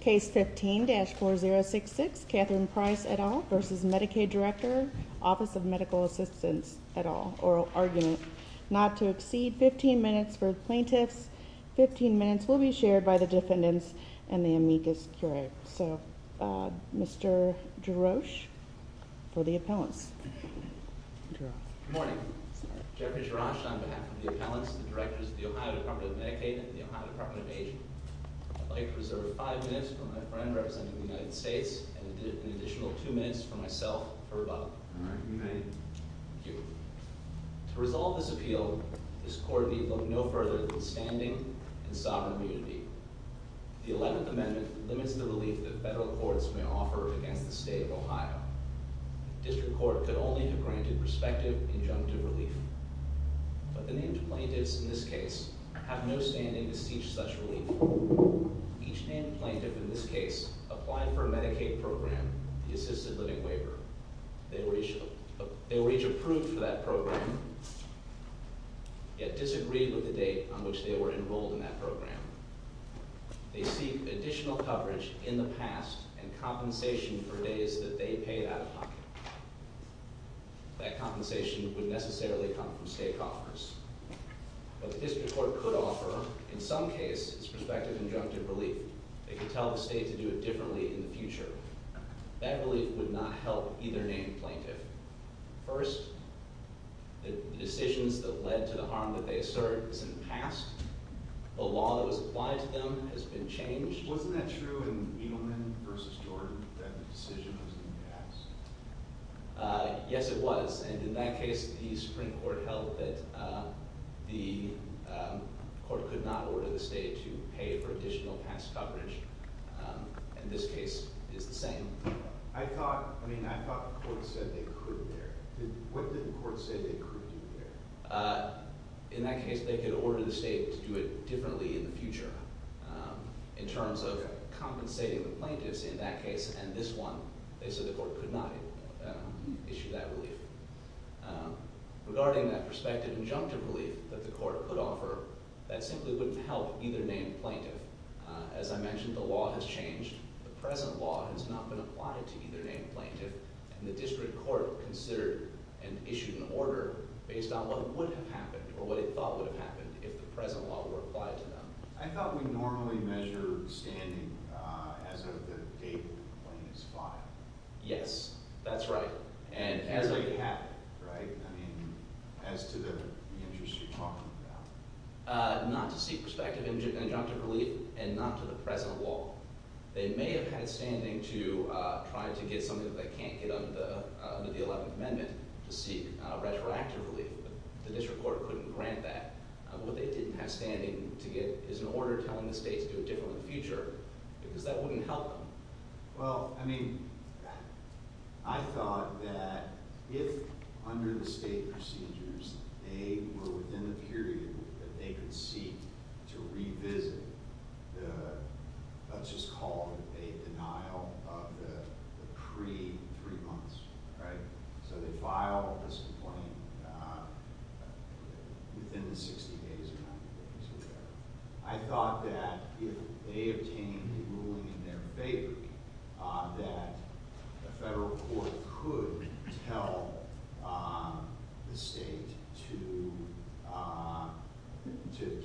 Case 15-4066, Katherine Price et al. v. Medicaid Director Office of Medical Assistance et al. Oral Argument. Not to exceed 15 minutes for plaintiffs. 15 minutes will be shared by the defendants and the amicus curiae. So, Mr. Jarosz for the appellants. Good morning. Jeffrey Jarosz on behalf of the appellants and the Directors of the Ohio Department of Medicaid and the Ohio Department of Aging. I'd like to reserve 5 minutes for my friend representing the United States and an additional 2 minutes for myself, Herb Up. Oral Argument. Thank you. To resolve this appeal, this Court need look no further than standing and sovereign immunity. The 11th Amendment limits the relief that federal courts may offer against the State of Ohio. The District Court could only have granted respective injunctive relief. But the named plaintiffs in this case have no standing to seek such relief. Each named plaintiff in this case applied for a Medicaid program, the Assisted Living Waiver. They were each approved for that program, yet disagreed with the date on which they were enrolled in that program. They seek additional coverage in the past and compensation for days that they paid out of pocket. That compensation would necessarily come from State coffers. But the District Court could offer, in some cases, prospective injunctive relief. They could tell the State to do it differently in the future. That relief would not help either named plaintiff. First, the decisions that led to the harm that they assert is in the past. The law that was applied to them has been changed. Wasn't that true in Edelman v. Jordan that the decision was in the past? Yes, it was. And in that case, the Supreme Court held that the Court could not order the State to pay for additional past coverage. And this case is the same. I thought the Court said they could there. What did the Court say they could do there? In that case, they could order the State to do it differently in the future. In terms of compensating the plaintiffs in that case and this one, they said the Court could not issue that relief. Regarding that prospective injunctive relief that the Court could offer, that simply wouldn't help either named plaintiff. As I mentioned, the law has changed. The present law has not been applied to either named plaintiff. And the district court considered and issued an order based on what would have happened or what it thought would have happened if the present law were applied to them. I thought we normally measure standing as of the date when the complaint is filed. Yes, that's right. As they have, right? I mean, as to the interest you're talking about. Not to seek prospective injunctive relief and not to the present law. They may have had standing to try to get something that they can't get under the 11th Amendment to seek retroactive relief. The district court couldn't grant that. What they didn't have standing to get is an order telling the State to do it differently in the future because that wouldn't help them. Well, I mean, I thought that if under the State procedures they were within the period that they could seek to revisit what's just called a denial of the pre-three months, right? So they file this complaint within the 60 days or 90 days or whatever. I thought that if they obtained a ruling in their favor that the federal court could tell the State to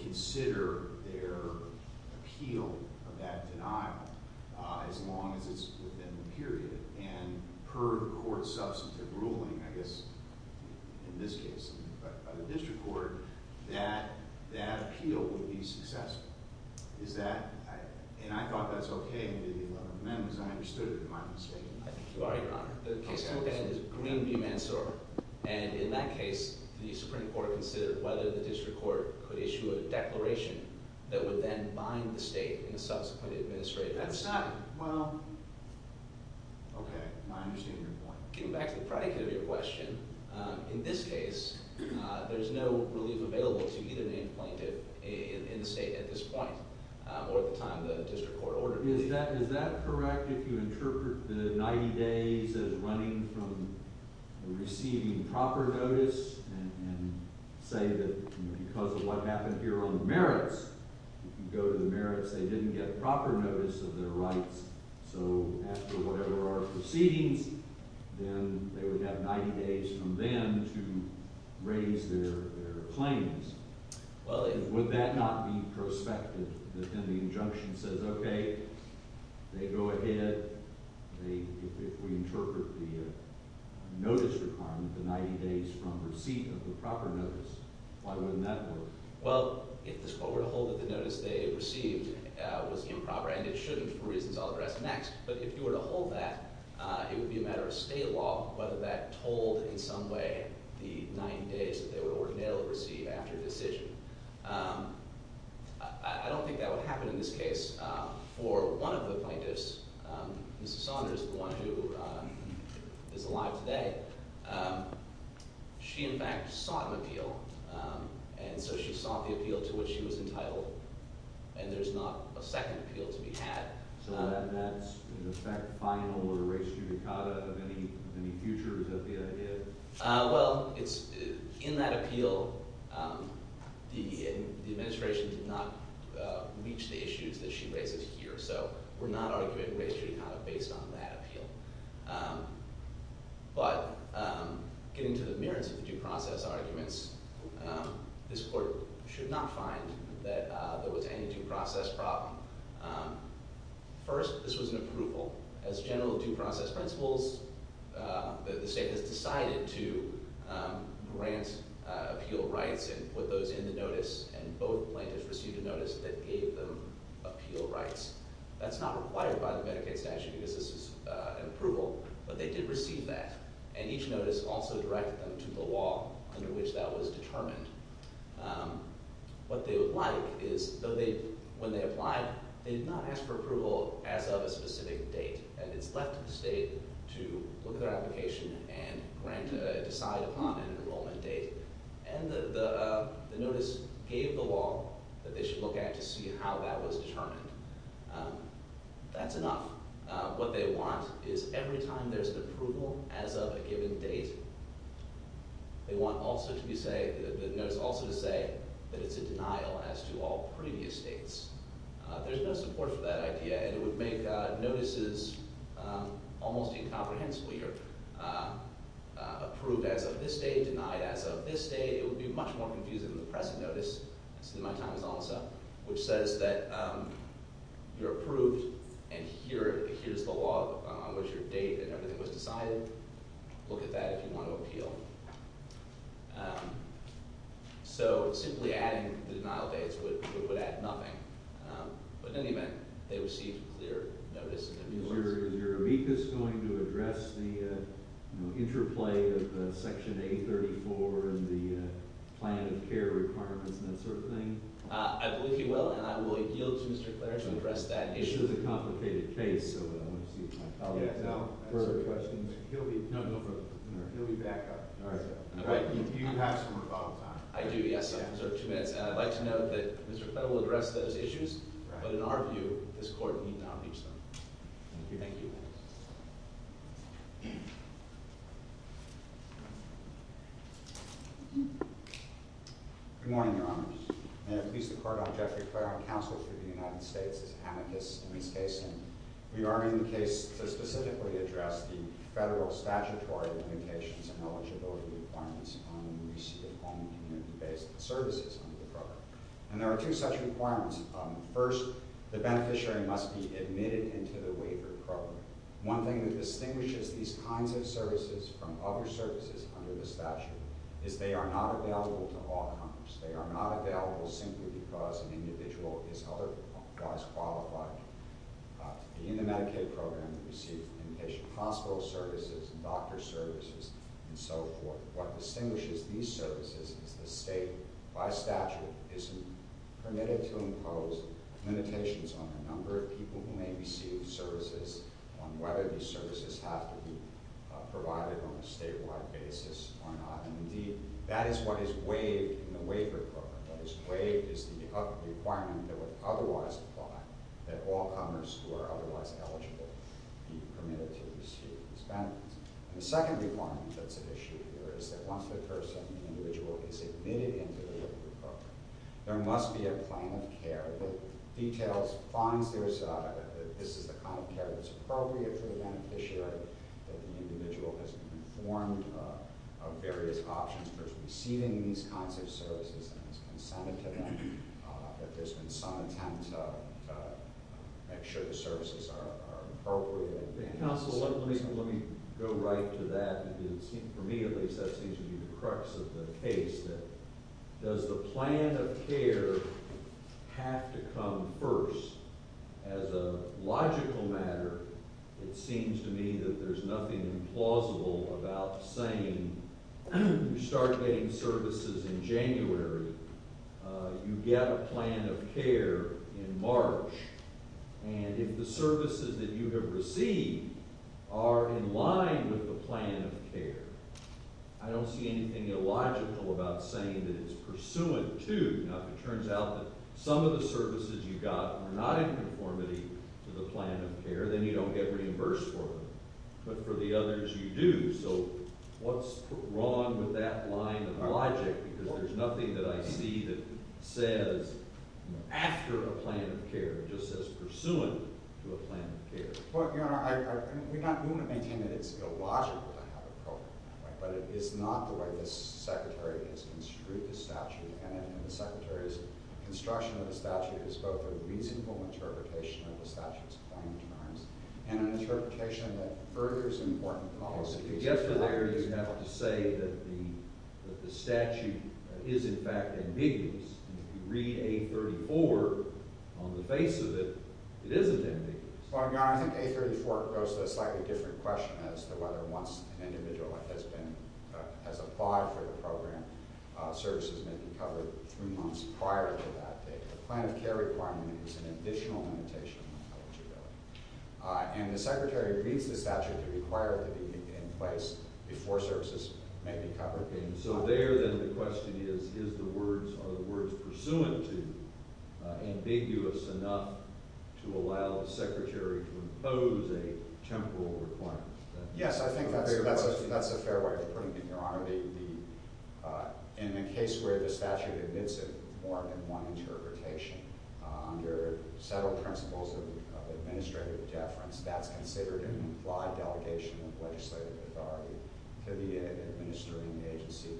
consider their appeal of that denial as long as it's within the period. And per the court's substantive ruling, I guess in this case by the district court, that that appeal would be successful. Is that, and I thought that's okay in the 11th Amendment because I understood it in my own statement. I think you are, Your Honor. The case I'm looking at is Green v. Mansour. And in that case, the Supreme Court considered whether the district court could issue a declaration that would then bind the State in subsequent administrative action. That's not, well, okay. I understand your point. Getting back to the predicate of your question, in this case, there's no relief available to either named plaintiff in the State at this point or at the time the district court ordered it. Is that correct if you interpret the 90 days as running from receiving proper notice and say that because of what happened here on the merits, if you go to the merits, they didn't get proper notice of their rights. So after whatever our proceedings, then they would have 90 days from then to raise their claims. Would that not be prospective that then the injunction says, okay, they go ahead, if we interpret the notice requirement, the 90 days from receipt of the proper notice? Why wouldn't that work? Well, if the court were to hold that the notice they received was improper, and it shouldn't for reasons I'll address next, but if you were to hold that, it would be a matter of State law whether that told in some way the 90 days that they would ordinarily receive after decision. I don't think that would happen in this case. For one of the plaintiffs, Mrs. Saunders, the one who is alive today, she, in fact, sought an appeal, and so she sought the appeal to which she was entitled, and there's not a second appeal to be had. So that's, in effect, final or res judicata of any future? Is that the idea? Well, it's – in that appeal, the administration did not reach the issues that she raises here, so we're not arguing res judicata based on that appeal. But getting to the merits of the due process arguments, this court should not find that there was any due process problem. First, this was an approval. As general due process principles, the state has decided to grant appeal rights and put those in the notice, and both plaintiffs received a notice that gave them appeal rights. That's not required by the Medicaid statute because this is an approval, but they did receive that, and each notice also directed them to the law under which that was determined. What they would like is – when they applied, they did not ask for approval as of a specific date, and it's left to the state to look at their application and decide upon an enrollment date. And the notice gave the law that they should look at to see how that was determined. That's enough. What they want is every time there's an approval as of a given date, they want also to be – the notice also to say that it's a denial as to all previous dates. There's no support for that idea, and it would make notices almost incomprehensibly or – approved as of this date, denied as of this date. It would be much more confusing than the pressing notice, which says that you're approved and here's the law on which your date and everything was decided. Look at that if you want to appeal. So simply adding the denial dates would add nothing, but in any event, they received a clear notice. Is your amicus going to address the interplay of Section 834 and the plan of care requirements and that sort of thing? I believe he will, and I will yield to Mr. Clare to address that issue. This is a complicated case, so I want to see if my colleague can answer questions. He'll be back up. All right. You have some rebuttal time. I do, yes. I have two minutes, and I'd like to note that Mr. Fett will address those issues, but in our view, this Court need not reach them. Thank you. Thank you. Good morning, Your Honors. May it please the Court, I'm Jeffrey Clare. I'm counsel for the United States as amicus in this case, and we are in the case to specifically address the federal statutory limitations and eligibility requirements on receipt of home and community-based services under the program. And there are two such requirements. First, the beneficiary must be admitted into the waiver program. One thing that distinguishes these kinds of services from other services under the statute is they are not available to all comers. They are not available simply because an individual is otherwise qualified to be in the Medicaid program to receive inpatient hospital services and doctor services and so forth. What distinguishes these services is the state, by statute, isn't permitted to impose limitations on the number of people who may receive services, on whether these services have to be provided on a statewide basis or not. And, indeed, that is what is waived in the waiver program. What is waived is the requirement that would otherwise apply, that all comers who are otherwise eligible be permitted to receive these benefits. And the second requirement that's at issue here is that once the person, the individual, is admitted into the waiver program, there must be a plan of care that details, finds this is the kind of care that's appropriate for the beneficiary, that the individual has been informed of various options for receiving these kinds of services and has consented to them, that there's been some attempt to make sure the services are appropriate. Counsel, let me go right to that. For me, at least, that seems to be the crux of the case, that does the plan of care have to come first? As a logical matter, it seems to me that there's nothing implausible about saying you start getting services in January, you get a plan of care in March. And if the services that you have received are in line with the plan of care, I don't see anything illogical about saying that it's pursuant to. Now, if it turns out that some of the services you got are not in conformity to the plan of care, then you don't get reimbursed for them. But for the others, you do. So what's wrong with that line of logic? Because there's nothing that I see that says after a plan of care. It just says pursuant to a plan of care. Well, Your Honor, we want to maintain that it's illogical to have a program. But it is not the way the Secretary has construed the statute. And the Secretary's construction of the statute is both a reasonable interpretation of the statute's fine terms and an interpretation that furthers important policy. Yes, but there you have to say that the statute is, in fact, ambiguous. If you read A34, on the face of it, it isn't ambiguous. Well, Your Honor, I think A34 goes to a slightly different question as to whether once an individual has applied for the program, services may be covered three months prior to that date. The plan of care requirement is an additional limitation on eligibility. And the Secretary reads the statute to require it to be in place before services may be covered. So there, then, the question is, are the words pursuant to ambiguous enough to allow the Secretary to impose a temporal requirement? Yes, I think that's a fair way of putting it, Your Honor. In a case where the statute admits it with more than one interpretation, under several principles of administrative deference, that's considered an implied delegation of legislative authority to the administering agency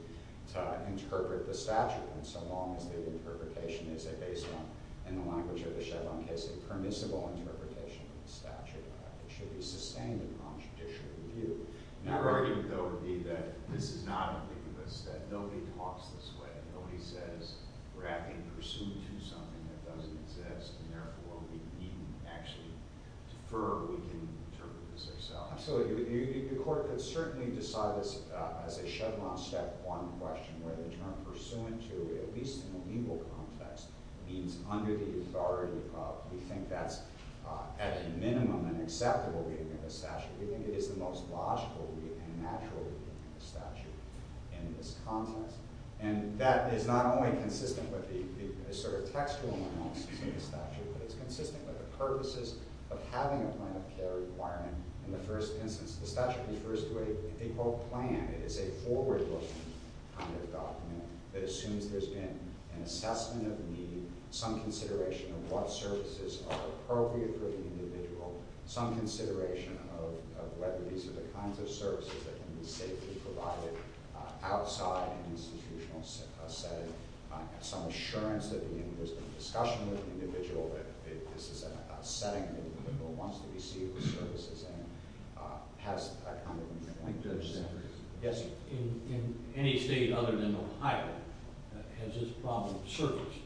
to interpret the statute, so long as the interpretation is based on, in the language of the Chevron case, a permissible interpretation of the statute. It should be sustained upon judicial review. My argument, though, would be that this is not ambiguous, that nobody talks this way. Absolutely. The court could certainly decide this as a Chevron step one question, where the term pursuant to, at least in the legal context, means under the authority of. We think that's, at a minimum, an acceptable reading of the statute. We think it is the most logical reading and natural reading of the statute in this context. And that is not only consistent with the sort of textual analysis of the statute, but it's consistent with the purposes of having a plan of care requirement in the first instance. The statute refers to a, I think, quote, plan. It is a forward-looking kind of document that assumes there's been an assessment of need, some consideration of what services are appropriate for the individual, some consideration of whether these are the kinds of services that can be safely provided outside an institutional setting, some assurance that there's been a discussion with the individual that this is a setting that the individual wants to receive the services in, has a kind of a link to the statute. Yes, sir. In any state other than Ohio, has this problem surfaced?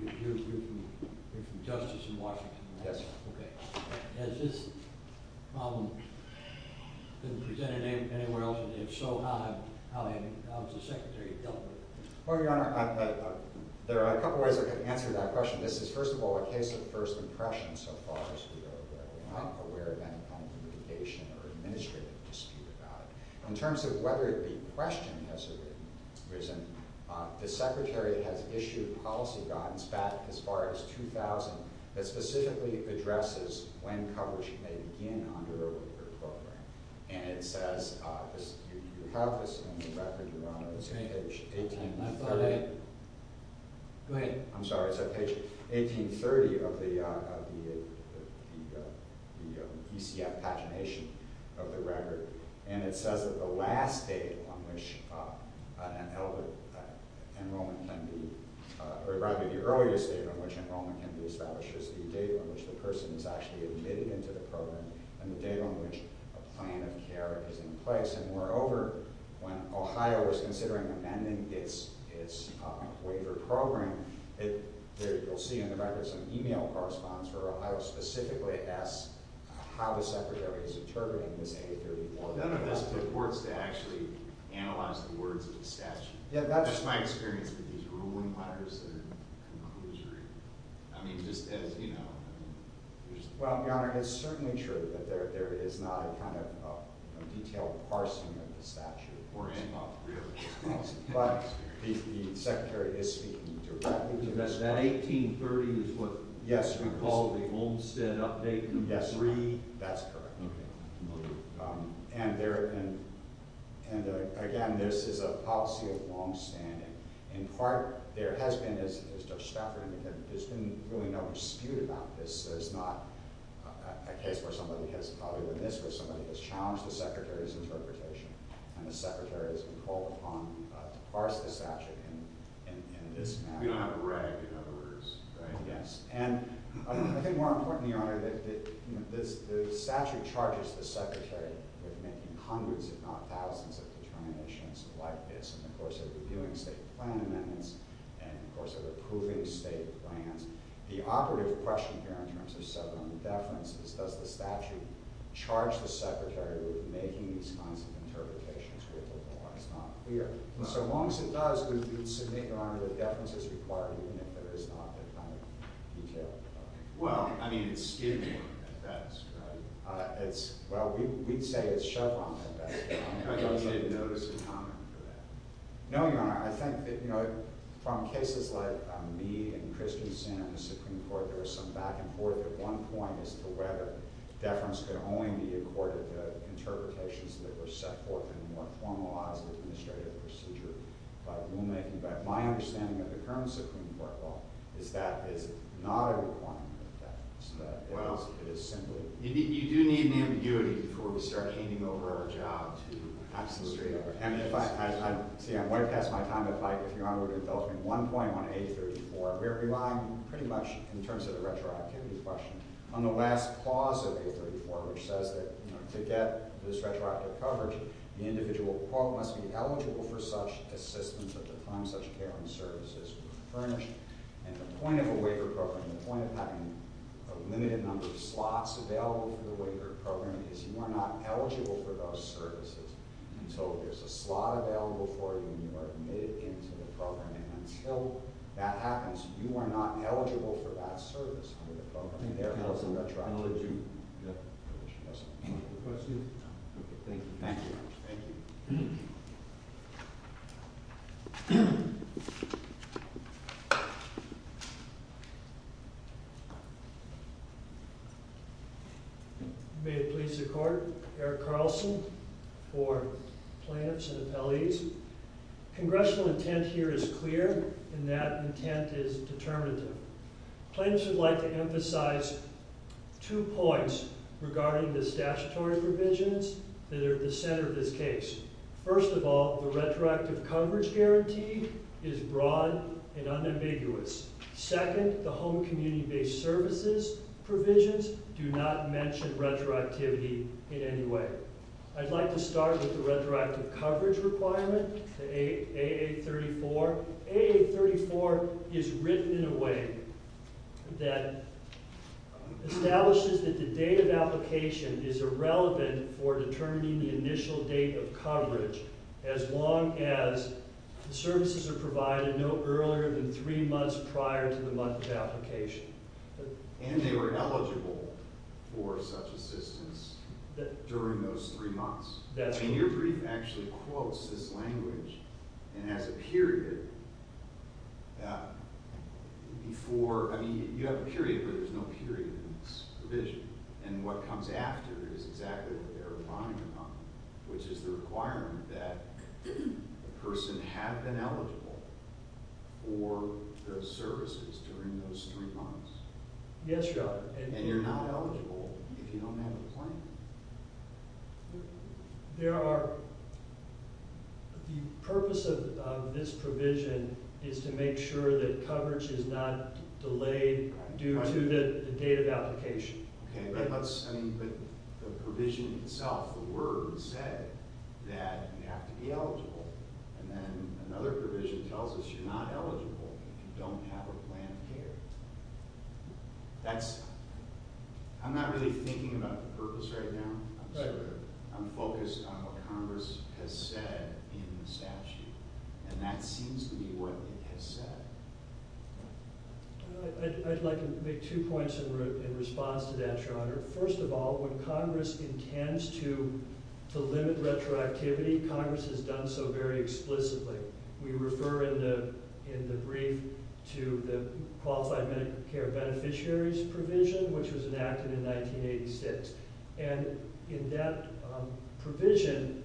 You're from Justice in Washington, right? Yes, sir. Okay. Has this problem been presented anywhere else? And if so, how has the Secretary dealt with it? Well, Your Honor, there are a couple of ways I can answer that question. This is, first of all, a case of first impression so far as we are not aware of any kind of litigation or administrative dispute about it. In terms of whether the question has arisen, the Secretary has issued policy guidance back as far as 2000 that specifically addresses when coverage may begin under a waiver program. And it says, you have this in the record, Your Honor, it's on page 1830 of the ECF pagination of the record. And it says that the last date on which enrollment can be, or rather the earliest date on which enrollment can be established is the date on which the person is actually admitted into the program and the date on which a plan of care is in place. And moreover, when Ohio is considering amending its waiver program, you'll see in the record some e-mail correspondence where Ohio specifically asks how the Secretary is interpreting this A31. No, no, that's the courts that actually analyze the words of the statute. That's my experience with these ruling honors that are kind of illusory. I mean, just as, you know. Well, Your Honor, it's certainly true that there is not a kind of detailed parsing of the statute. But the Secretary is speaking directly to us. That 1830 is what we call the Olmstead update? Yes, that's correct. And again, this is a policy of longstanding. In part, there has been, as Judge Stafford indicated, there's been really no dispute about this. There's not a case where somebody has challenged the Secretary's interpretation and the Secretary has been called upon to parse the statute in this manner. We don't have a rag, we have a ruse, right? Yes. And I think more importantly, Your Honor, the statute charges the Secretary with making hundreds, if not thousands, of determinations like this in the course of reviewing state plan amendments and in the course of approving state plans. The operative question here in terms of severing the deference is, does the statute charge the Secretary with making these kinds of interpretations with the law? It's not clear. So long as it does, we would submit, Your Honor, that deference is required, even if there is not a kind of detail. Well, I mean, it's Skidmore at best, right? Well, we'd say it's Chevron at best. I don't think you'd notice a comment for that. No, Your Honor. I think that, you know, from cases like me and Christensen in the Supreme Court, there was some back and forth at one point as to whether deference could only be accorded to interpretations that were set forth in a more formalized administrative procedure by rulemaking. But my understanding of the current Supreme Court law is that it's not a requirement of deference. It is simply— You do need an ambiguity before we start hanging over our job to have some straight-up evidence. See, I'm way past my time, but, Mike, if Your Honor would indulge me, one point on 834. We're relying pretty much, in terms of the retroactivity question, on the last clause of 834, which says that to get this retroactive coverage, the individual, quote, must be eligible for such assistance at the time such caring services were furnished. And the point of a waiver program, the point of having a limited number of slots available for the waiver program, is you are not eligible for those services until there's a slot available for you and you are admitted into the program. And until that happens, you are not eligible for that service under the program. Therefore, it's a retroactive issue. Thank you. Questions? No. Thank you. Thank you. Thank you. May it please the Court, Eric Carlson for plaintiffs and appellees. Congressional intent here is clear, and that intent is determinative. Plaintiffs would like to emphasize two points regarding the statutory provisions that are at the center of this case. First of all, the retroactive coverage guarantee is broad and unambiguous. Second, the home community-based services provisions do not mention retroactivity in any way. I'd like to start with the retroactive coverage requirement, the AA34. AA34 is written in a way that establishes that the date of application is irrelevant for determining the initial date of coverage, as long as the services are provided no earlier than three months prior to the month of application. And they were eligible for such assistance during those three months. That's right. I mean, your brief actually quotes this language and has a period before – I mean, you have a period, but there's no period in this provision. And what comes after is exactly what they're refining upon, which is the requirement that the person have been eligible for the services during those three months. Yes, Your Honor. And you're not eligible if you don't have a plan. There are – the purpose of this provision is to make sure that coverage is not delayed due to the date of application. Okay, but let's – I mean, but the provision itself, the word said that you have to be eligible. And then another provision tells us you're not eligible if you don't have a plan of care. That's – I'm not really thinking about the purpose right now. I'm sort of – I'm focused on what Congress has said in the statute. And that seems to be what it has said. I'd like to make two points in response to that, Your Honor. First of all, when Congress intends to limit retroactivity, Congress has done so very explicitly. We refer in the brief to the Qualified Medicare Beneficiaries Provision, which was enacted in 1986. And in that provision,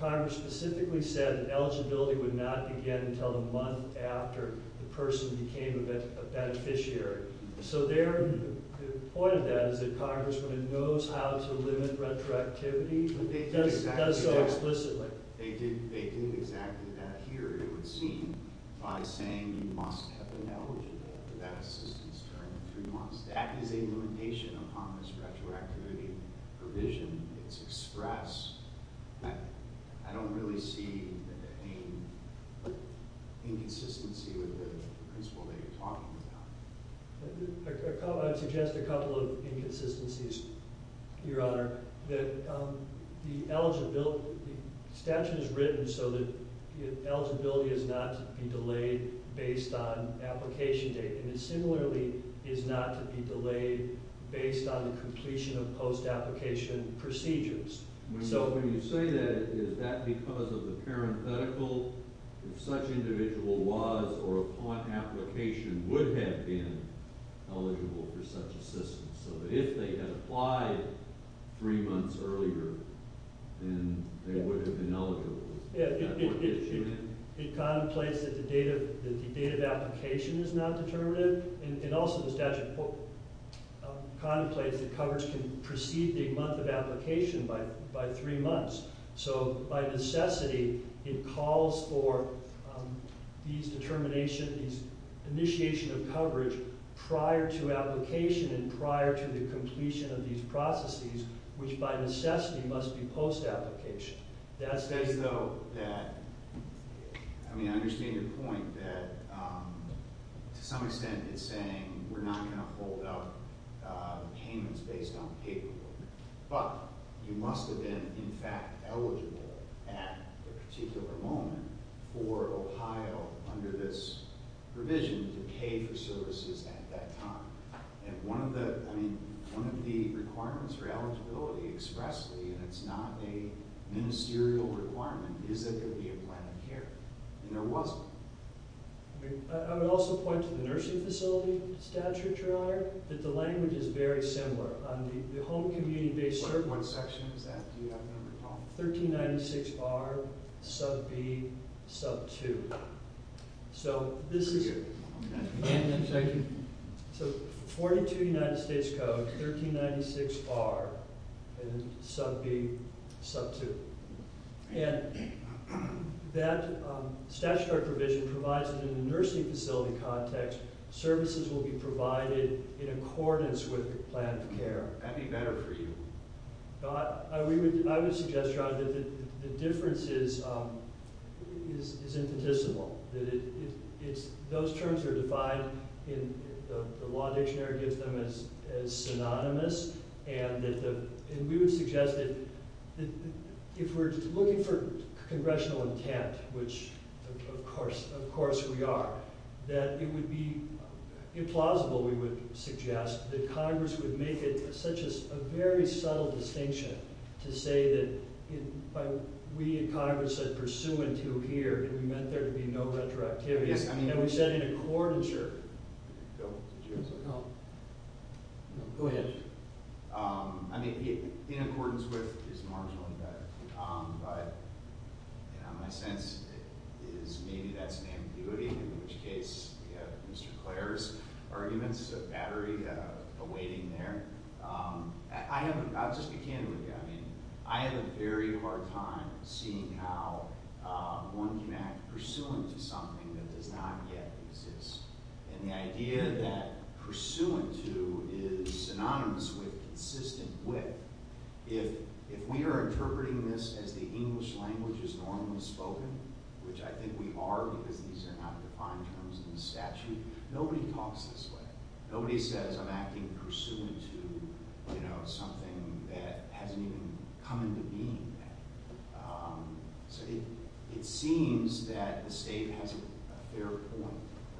Congress specifically said that eligibility would not begin until the month after the person became a beneficiary. So their – the point of that is that Congress, when it knows how to limit retroactivity, does so explicitly. They did exactly that here, it would seem, by saying you must have been eligible for that assistance during the three months. That is a limitation upon this retroactivity provision. It's expressed. I don't really see any inconsistency with the principle that you're talking about. I'd suggest a couple of inconsistencies, Your Honor. That the eligibility – the statute is written so that eligibility is not to be delayed based on application date. And it similarly is not to be delayed based on the completion of post-application procedures. When you say that, is that because of the parenthetical? If such individual was or upon application would have been eligible for such assistance? So that if they had applied three months earlier, then they would have been eligible. It contemplates that the date of application is not determinative. And also the statute contemplates that coverage can precede the month of application by three months. So by necessity, it calls for these determination – these initiation of coverage prior to application and prior to the completion of these processes, which by necessity must be post-application. That says, though, that – I mean, I understand your point that to some extent it's saying we're not going to hold out payments based on paperwork. But you must have been, in fact, eligible at the particular moment for Ohio under this provision to pay for services at that time. And one of the – I mean, one of the requirements for eligibility expressly, and it's not a ministerial requirement, is that there be a plan of care. And there wasn't. I mean, I would also point to the nursing facility statute, Your Honor, that the language is very similar. The home community-based service – What section is that? Do you happen to recall? 1396R, sub B, sub 2. So this is – So 42 United States Code, 1396R, and sub B, sub 2. And that statutory provision provides that in the nursing facility context, services will be provided in accordance with the plan of care. That'd be better for you. I would suggest, Your Honor, that the difference is infinitesimal, that it's – those terms are defined in – the law dictionary gives them as synonymous. And we would suggest that if we're looking for congressional intent, which of course we are, that it would be implausible, we would suggest, that Congress would make it such a very subtle distinction to say that we in Congress said, and we meant there to be no retroactivity. Yes, I mean – And we said in accordance, Your Honor. Bill, did you have something? No. Go ahead. I mean, in accordance with is marginally better. But, you know, my sense is maybe that's an ambiguity, in which case we have Mr. Clare's arguments of battery awaiting there. I'll just be candid with you. I mean, I have a very hard time seeing how one can act pursuant to something that does not yet exist. And the idea that pursuant to is synonymous with consistent with, if we are interpreting this as the English language is normally spoken, which I think we are because these are not defined terms in the statute, nobody talks this way. Nobody says I'm acting pursuant to, you know, something that hasn't even come into being yet. So it seems that the state has a fair point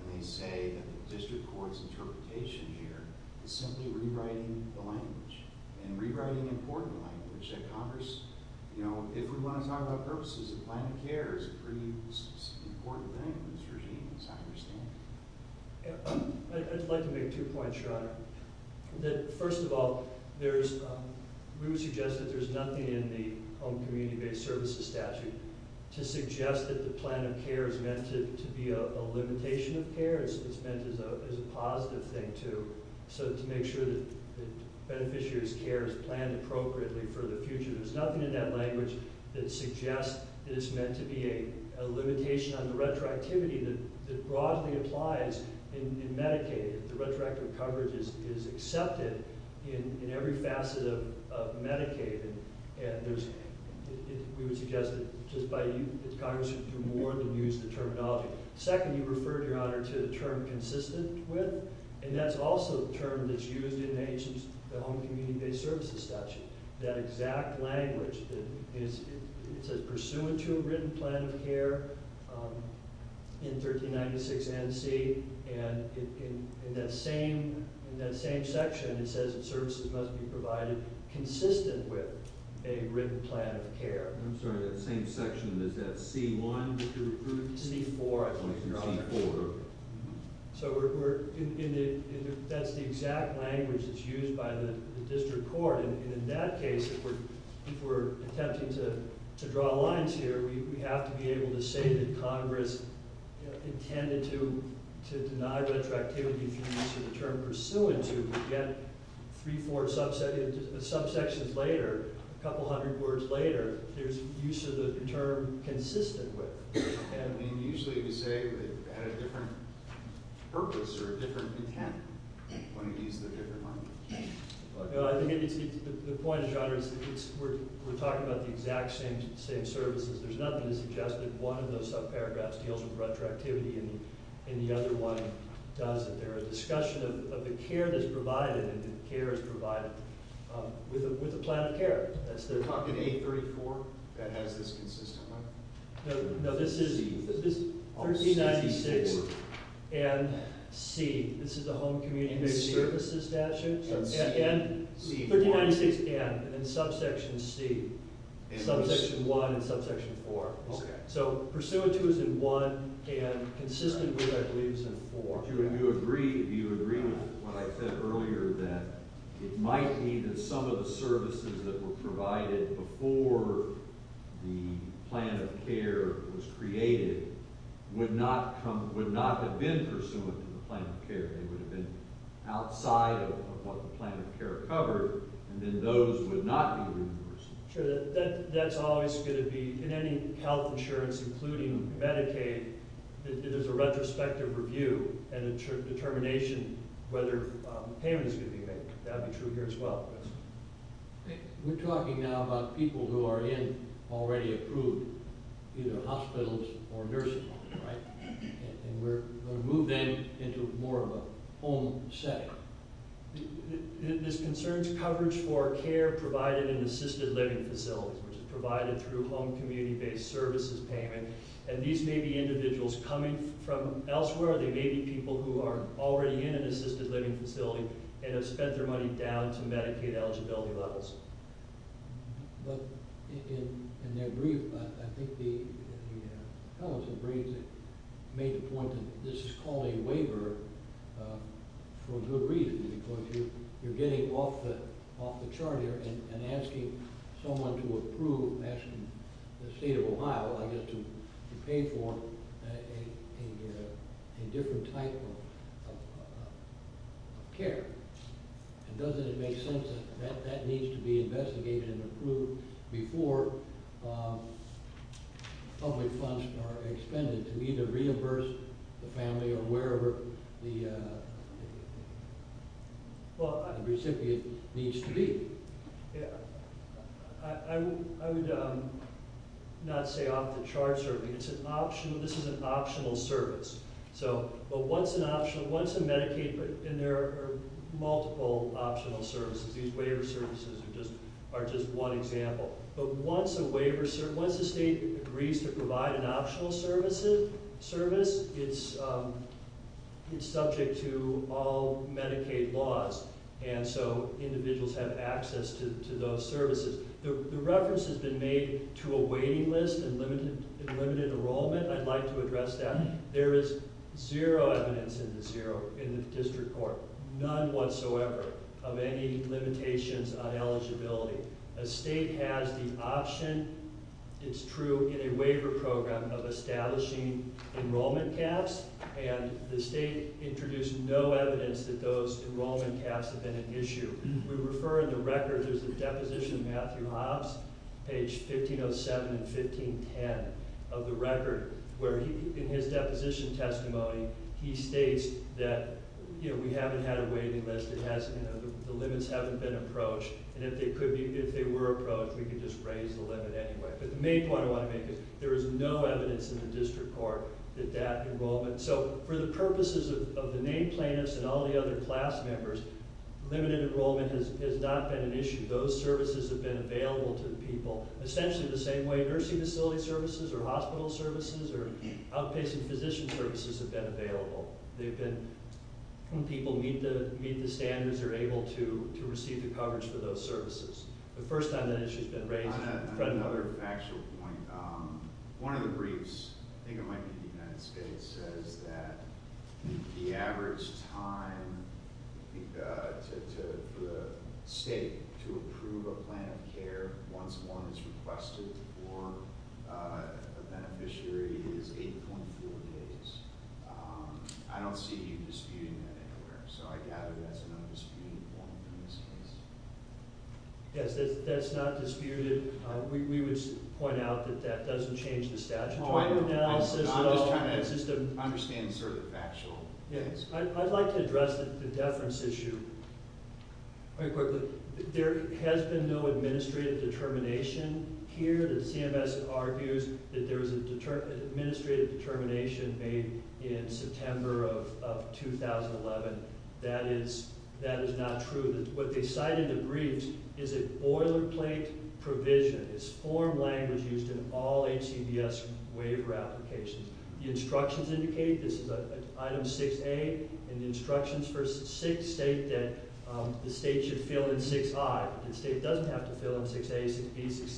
when they say that the district court's interpretation here is simply rewriting the language, and rewriting important language that Congress, you know, if we want to talk about purposes of planning care is a pretty important thing in this regime, as I understand it. I'd like to make two points, Your Honor. First of all, we would suggest that there's nothing in the home community-based services statute to suggest that the plan of care is meant to be a limitation of care. It's meant as a positive thing, too, so to make sure that beneficiaries' care is planned appropriately for the future. There's nothing in that language that suggests that it's meant to be a limitation on the retroactivity that broadly applies in Medicaid, if the retroactive coverage is accepted in every facet of Medicaid. And we would suggest that Congress should do more than use the terminology. Second, you referred, Your Honor, to the term consistent with, and that's also a term that's used in the home community-based services statute. That exact language that is – it says pursuant to a written plan of care in 1396 NC, and in that same section, it says that services must be provided consistent with a written plan of care. I'm sorry, that same section. Is that C1, to recruit? C4, I think. C4. So we're – that's the exact language that's used by the district court, and in that case, if we're attempting to draw lines here, we have to be able to say that Congress intended to deny retroactivity through the use of the term pursuant to, and yet, three, four subsections later, a couple hundred words later, there's use of the term consistent with. I mean, usually we say it had a different purpose or a different intent when it used a different language. I think the point, Your Honor, is we're talking about the exact same services. There's nothing to suggest that one of those subparagraphs deals with retroactivity and the other one doesn't. They're a discussion of the care that's provided, and the care is provided with a plan of care. That's the – No, this is 1396 and C. This is the home community services statute. And C? 1396 and, and subsection C, subsection 1 and subsection 4. Okay. So pursuant to is in 1 and consistent with, I believe, is in 4. Do you agree with what I said earlier that it might be that some of the services that were provided before the plan of care was created would not have been pursuant to the plan of care? They would have been outside of what the plan of care covered, and then those would not be reimbursed. Sure. That's always going to be – in any health insurance, including Medicaid, it is a retrospective review and a determination whether payment is going to be made. That would be true here as well. We're talking now about people who are in already approved either hospitals or nursing homes, right? And we're going to move them into more of a home setting. This concerns coverage for care provided in assisted living facilities, which is provided through home community-based services payment. And these may be individuals coming from elsewhere. They may be people who are already in an assisted living facility and have spent their money down to Medicaid eligibility levels. But in their brief, I think the fellows who briefed made the point that this is called a waiver for a good reason, because you're getting off the chart here and asking someone to approve – asking the state of Ohio, I guess, to pay for a different type of care. And doesn't it make sense that that needs to be investigated and approved before public funds are expended to either reimburse the family or wherever the recipient needs to be? I would not say off the charts. This is an optional service. But once a Medicaid – and there are multiple optional services. These waiver services are just one example. But once the state agrees to provide an optional service, it's subject to all Medicaid laws. And so individuals have access to those services. The reference has been made to a waiting list and limited enrollment. I'd like to address that. There is zero evidence in the district court, none whatsoever, of any limitations on eligibility. A state has the option – it's true – in a waiver program of establishing enrollment caps. And the state introduced no evidence that those enrollment caps have been an issue. We refer in the record – there's a deposition of Matthew Hobbs, page 1507 and 1510 of the record, where he – in his deposition testimony, he states that, you know, we haven't had a waiting list. It hasn't – you know, the limits haven't been approached. And if they could be – if they were approached, we could just raise the limit anyway. But the main point I want to make is there is no evidence in the district court that that enrollment – so for the purposes of the named plaintiffs and all the other class members, limited enrollment has not been an issue. Those services have been available to the people, essentially the same way nursing facility services or hospital services or outpatient physician services have been available. They've been – when people meet the standards, they're able to receive the coverage for those services. The first time that issue has been raised – One other factual point. One of the briefs – I think it might be the United States – says that the average time for the state to approve a plan of care once one is requested for a beneficiary is 8.4 days. I don't see you disputing that anywhere. So I gather that's an undisputed point in this case. Yes, that's not disputed. We would point out that that doesn't change the statutory analysis at all. I'm just trying to understand sort of the factual case. I'd like to address the deference issue very quickly. There has been no administrative determination here. The CMS argues that there was an administrative determination made in September of 2011. That is not true. What they cite in the briefs is a boilerplate provision. It's form language used in all HCBS waiver applications. The instructions indicate – this is item 6A – and the instructions for state that the state should fill in 6I. The state doesn't have to fill in 6A, 6B,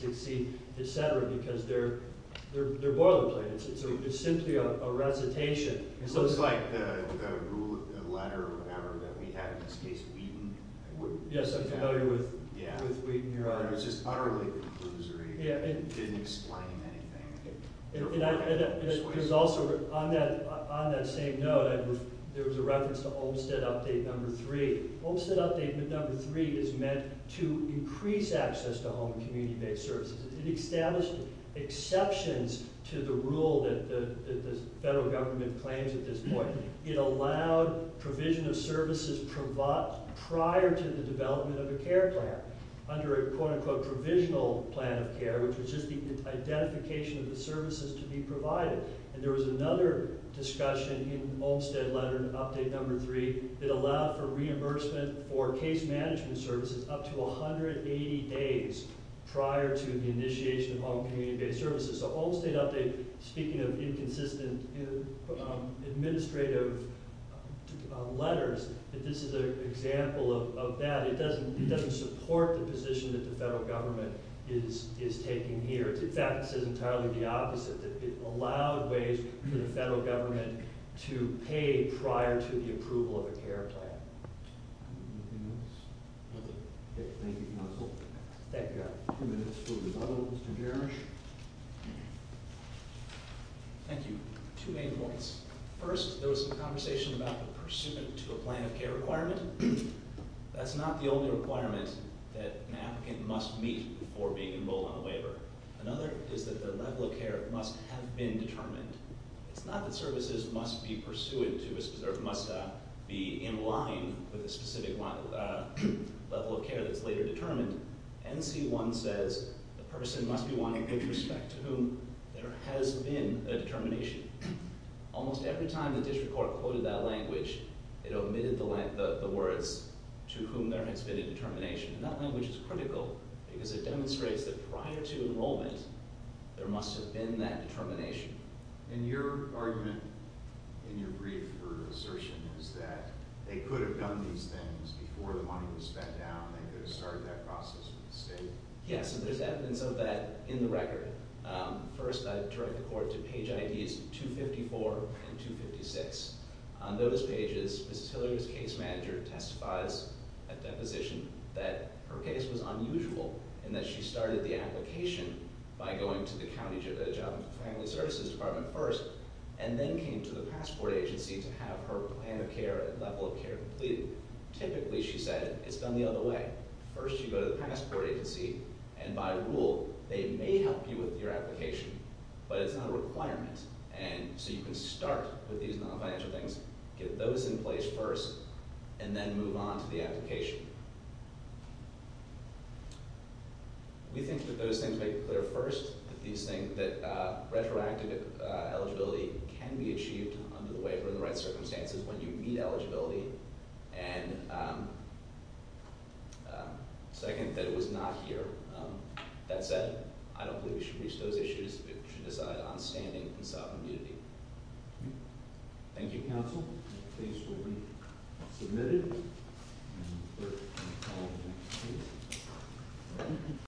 6C, et cetera, because they're boilerplates. It's simply a recitation. It's like the letter or whatever that we had in this case, Wheaton. Yes, I'm familiar with Wheaton. It was just utterly conclusory. It didn't explain anything. On that same note, there was a reference to Olmstead Update No. 3. Olmstead Update No. 3 is meant to increase access to home and community-based services. It established exceptions to the rule that the federal government claims at this point. It allowed provision of services prior to the development of a care plan under a, quote-unquote, provisional plan of care, which was just the identification of the services to be provided. And there was another discussion in the Olmstead Letter, Update No. 3, that allowed for reimbursement for case management services up to 180 days prior to the initiation of home and community-based services. So Olmstead Update, speaking of inconsistent administrative letters, this is an example of that. It doesn't support the position that the federal government is taking here. In fact, it says entirely the opposite. It allowed ways for the federal government to pay prior to the approval of a care plan. Anything else? Nothing. Thank you, counsel. Thank you. We've got two minutes for rebuttal. Mr. Gerrish? Thank you. Two main points. First, there was a conversation about the pursuant to a plan of care requirement. That's not the only requirement that an applicant must meet before being enrolled on a waiver. Another is that their level of care must have been determined. It's not that services must be in line with a specific level of care that's later determined. NC1 says the person must be wanting good respect to whom there has been a determination. Almost every time the district court quoted that language, it omitted the words, to whom there has been a determination. And that language is critical because it demonstrates that prior to enrollment, there must have been that determination. And your argument in your brief for assertion is that they could have done these things before the money was spent down. They could have started that process with the state. Yes, and there's evidence of that in the record. First, I direct the court to page IDs 254 and 256. On those pages, Mrs. Hilliard's case manager testifies at deposition that her case was unusual in that she started the application by going to the County Job and Family Services Department first and then came to the Passport Agency to have her plan of care and level of care completed. Typically, she said, it's done the other way. First, you go to the Passport Agency, and by rule, they may help you with your application, but it's not a requirement. And so you can start with these non-financial things, get those in place first, and then move on to the application. We think that those things make it clear first that retroactive eligibility can be achieved under the waiver in the right circumstances when you meet eligibility, and second, that it was not here. That said, I don't believe we should reach those issues. We should decide on standing in sovereign immunity. Thank you, counsel. The case will be submitted.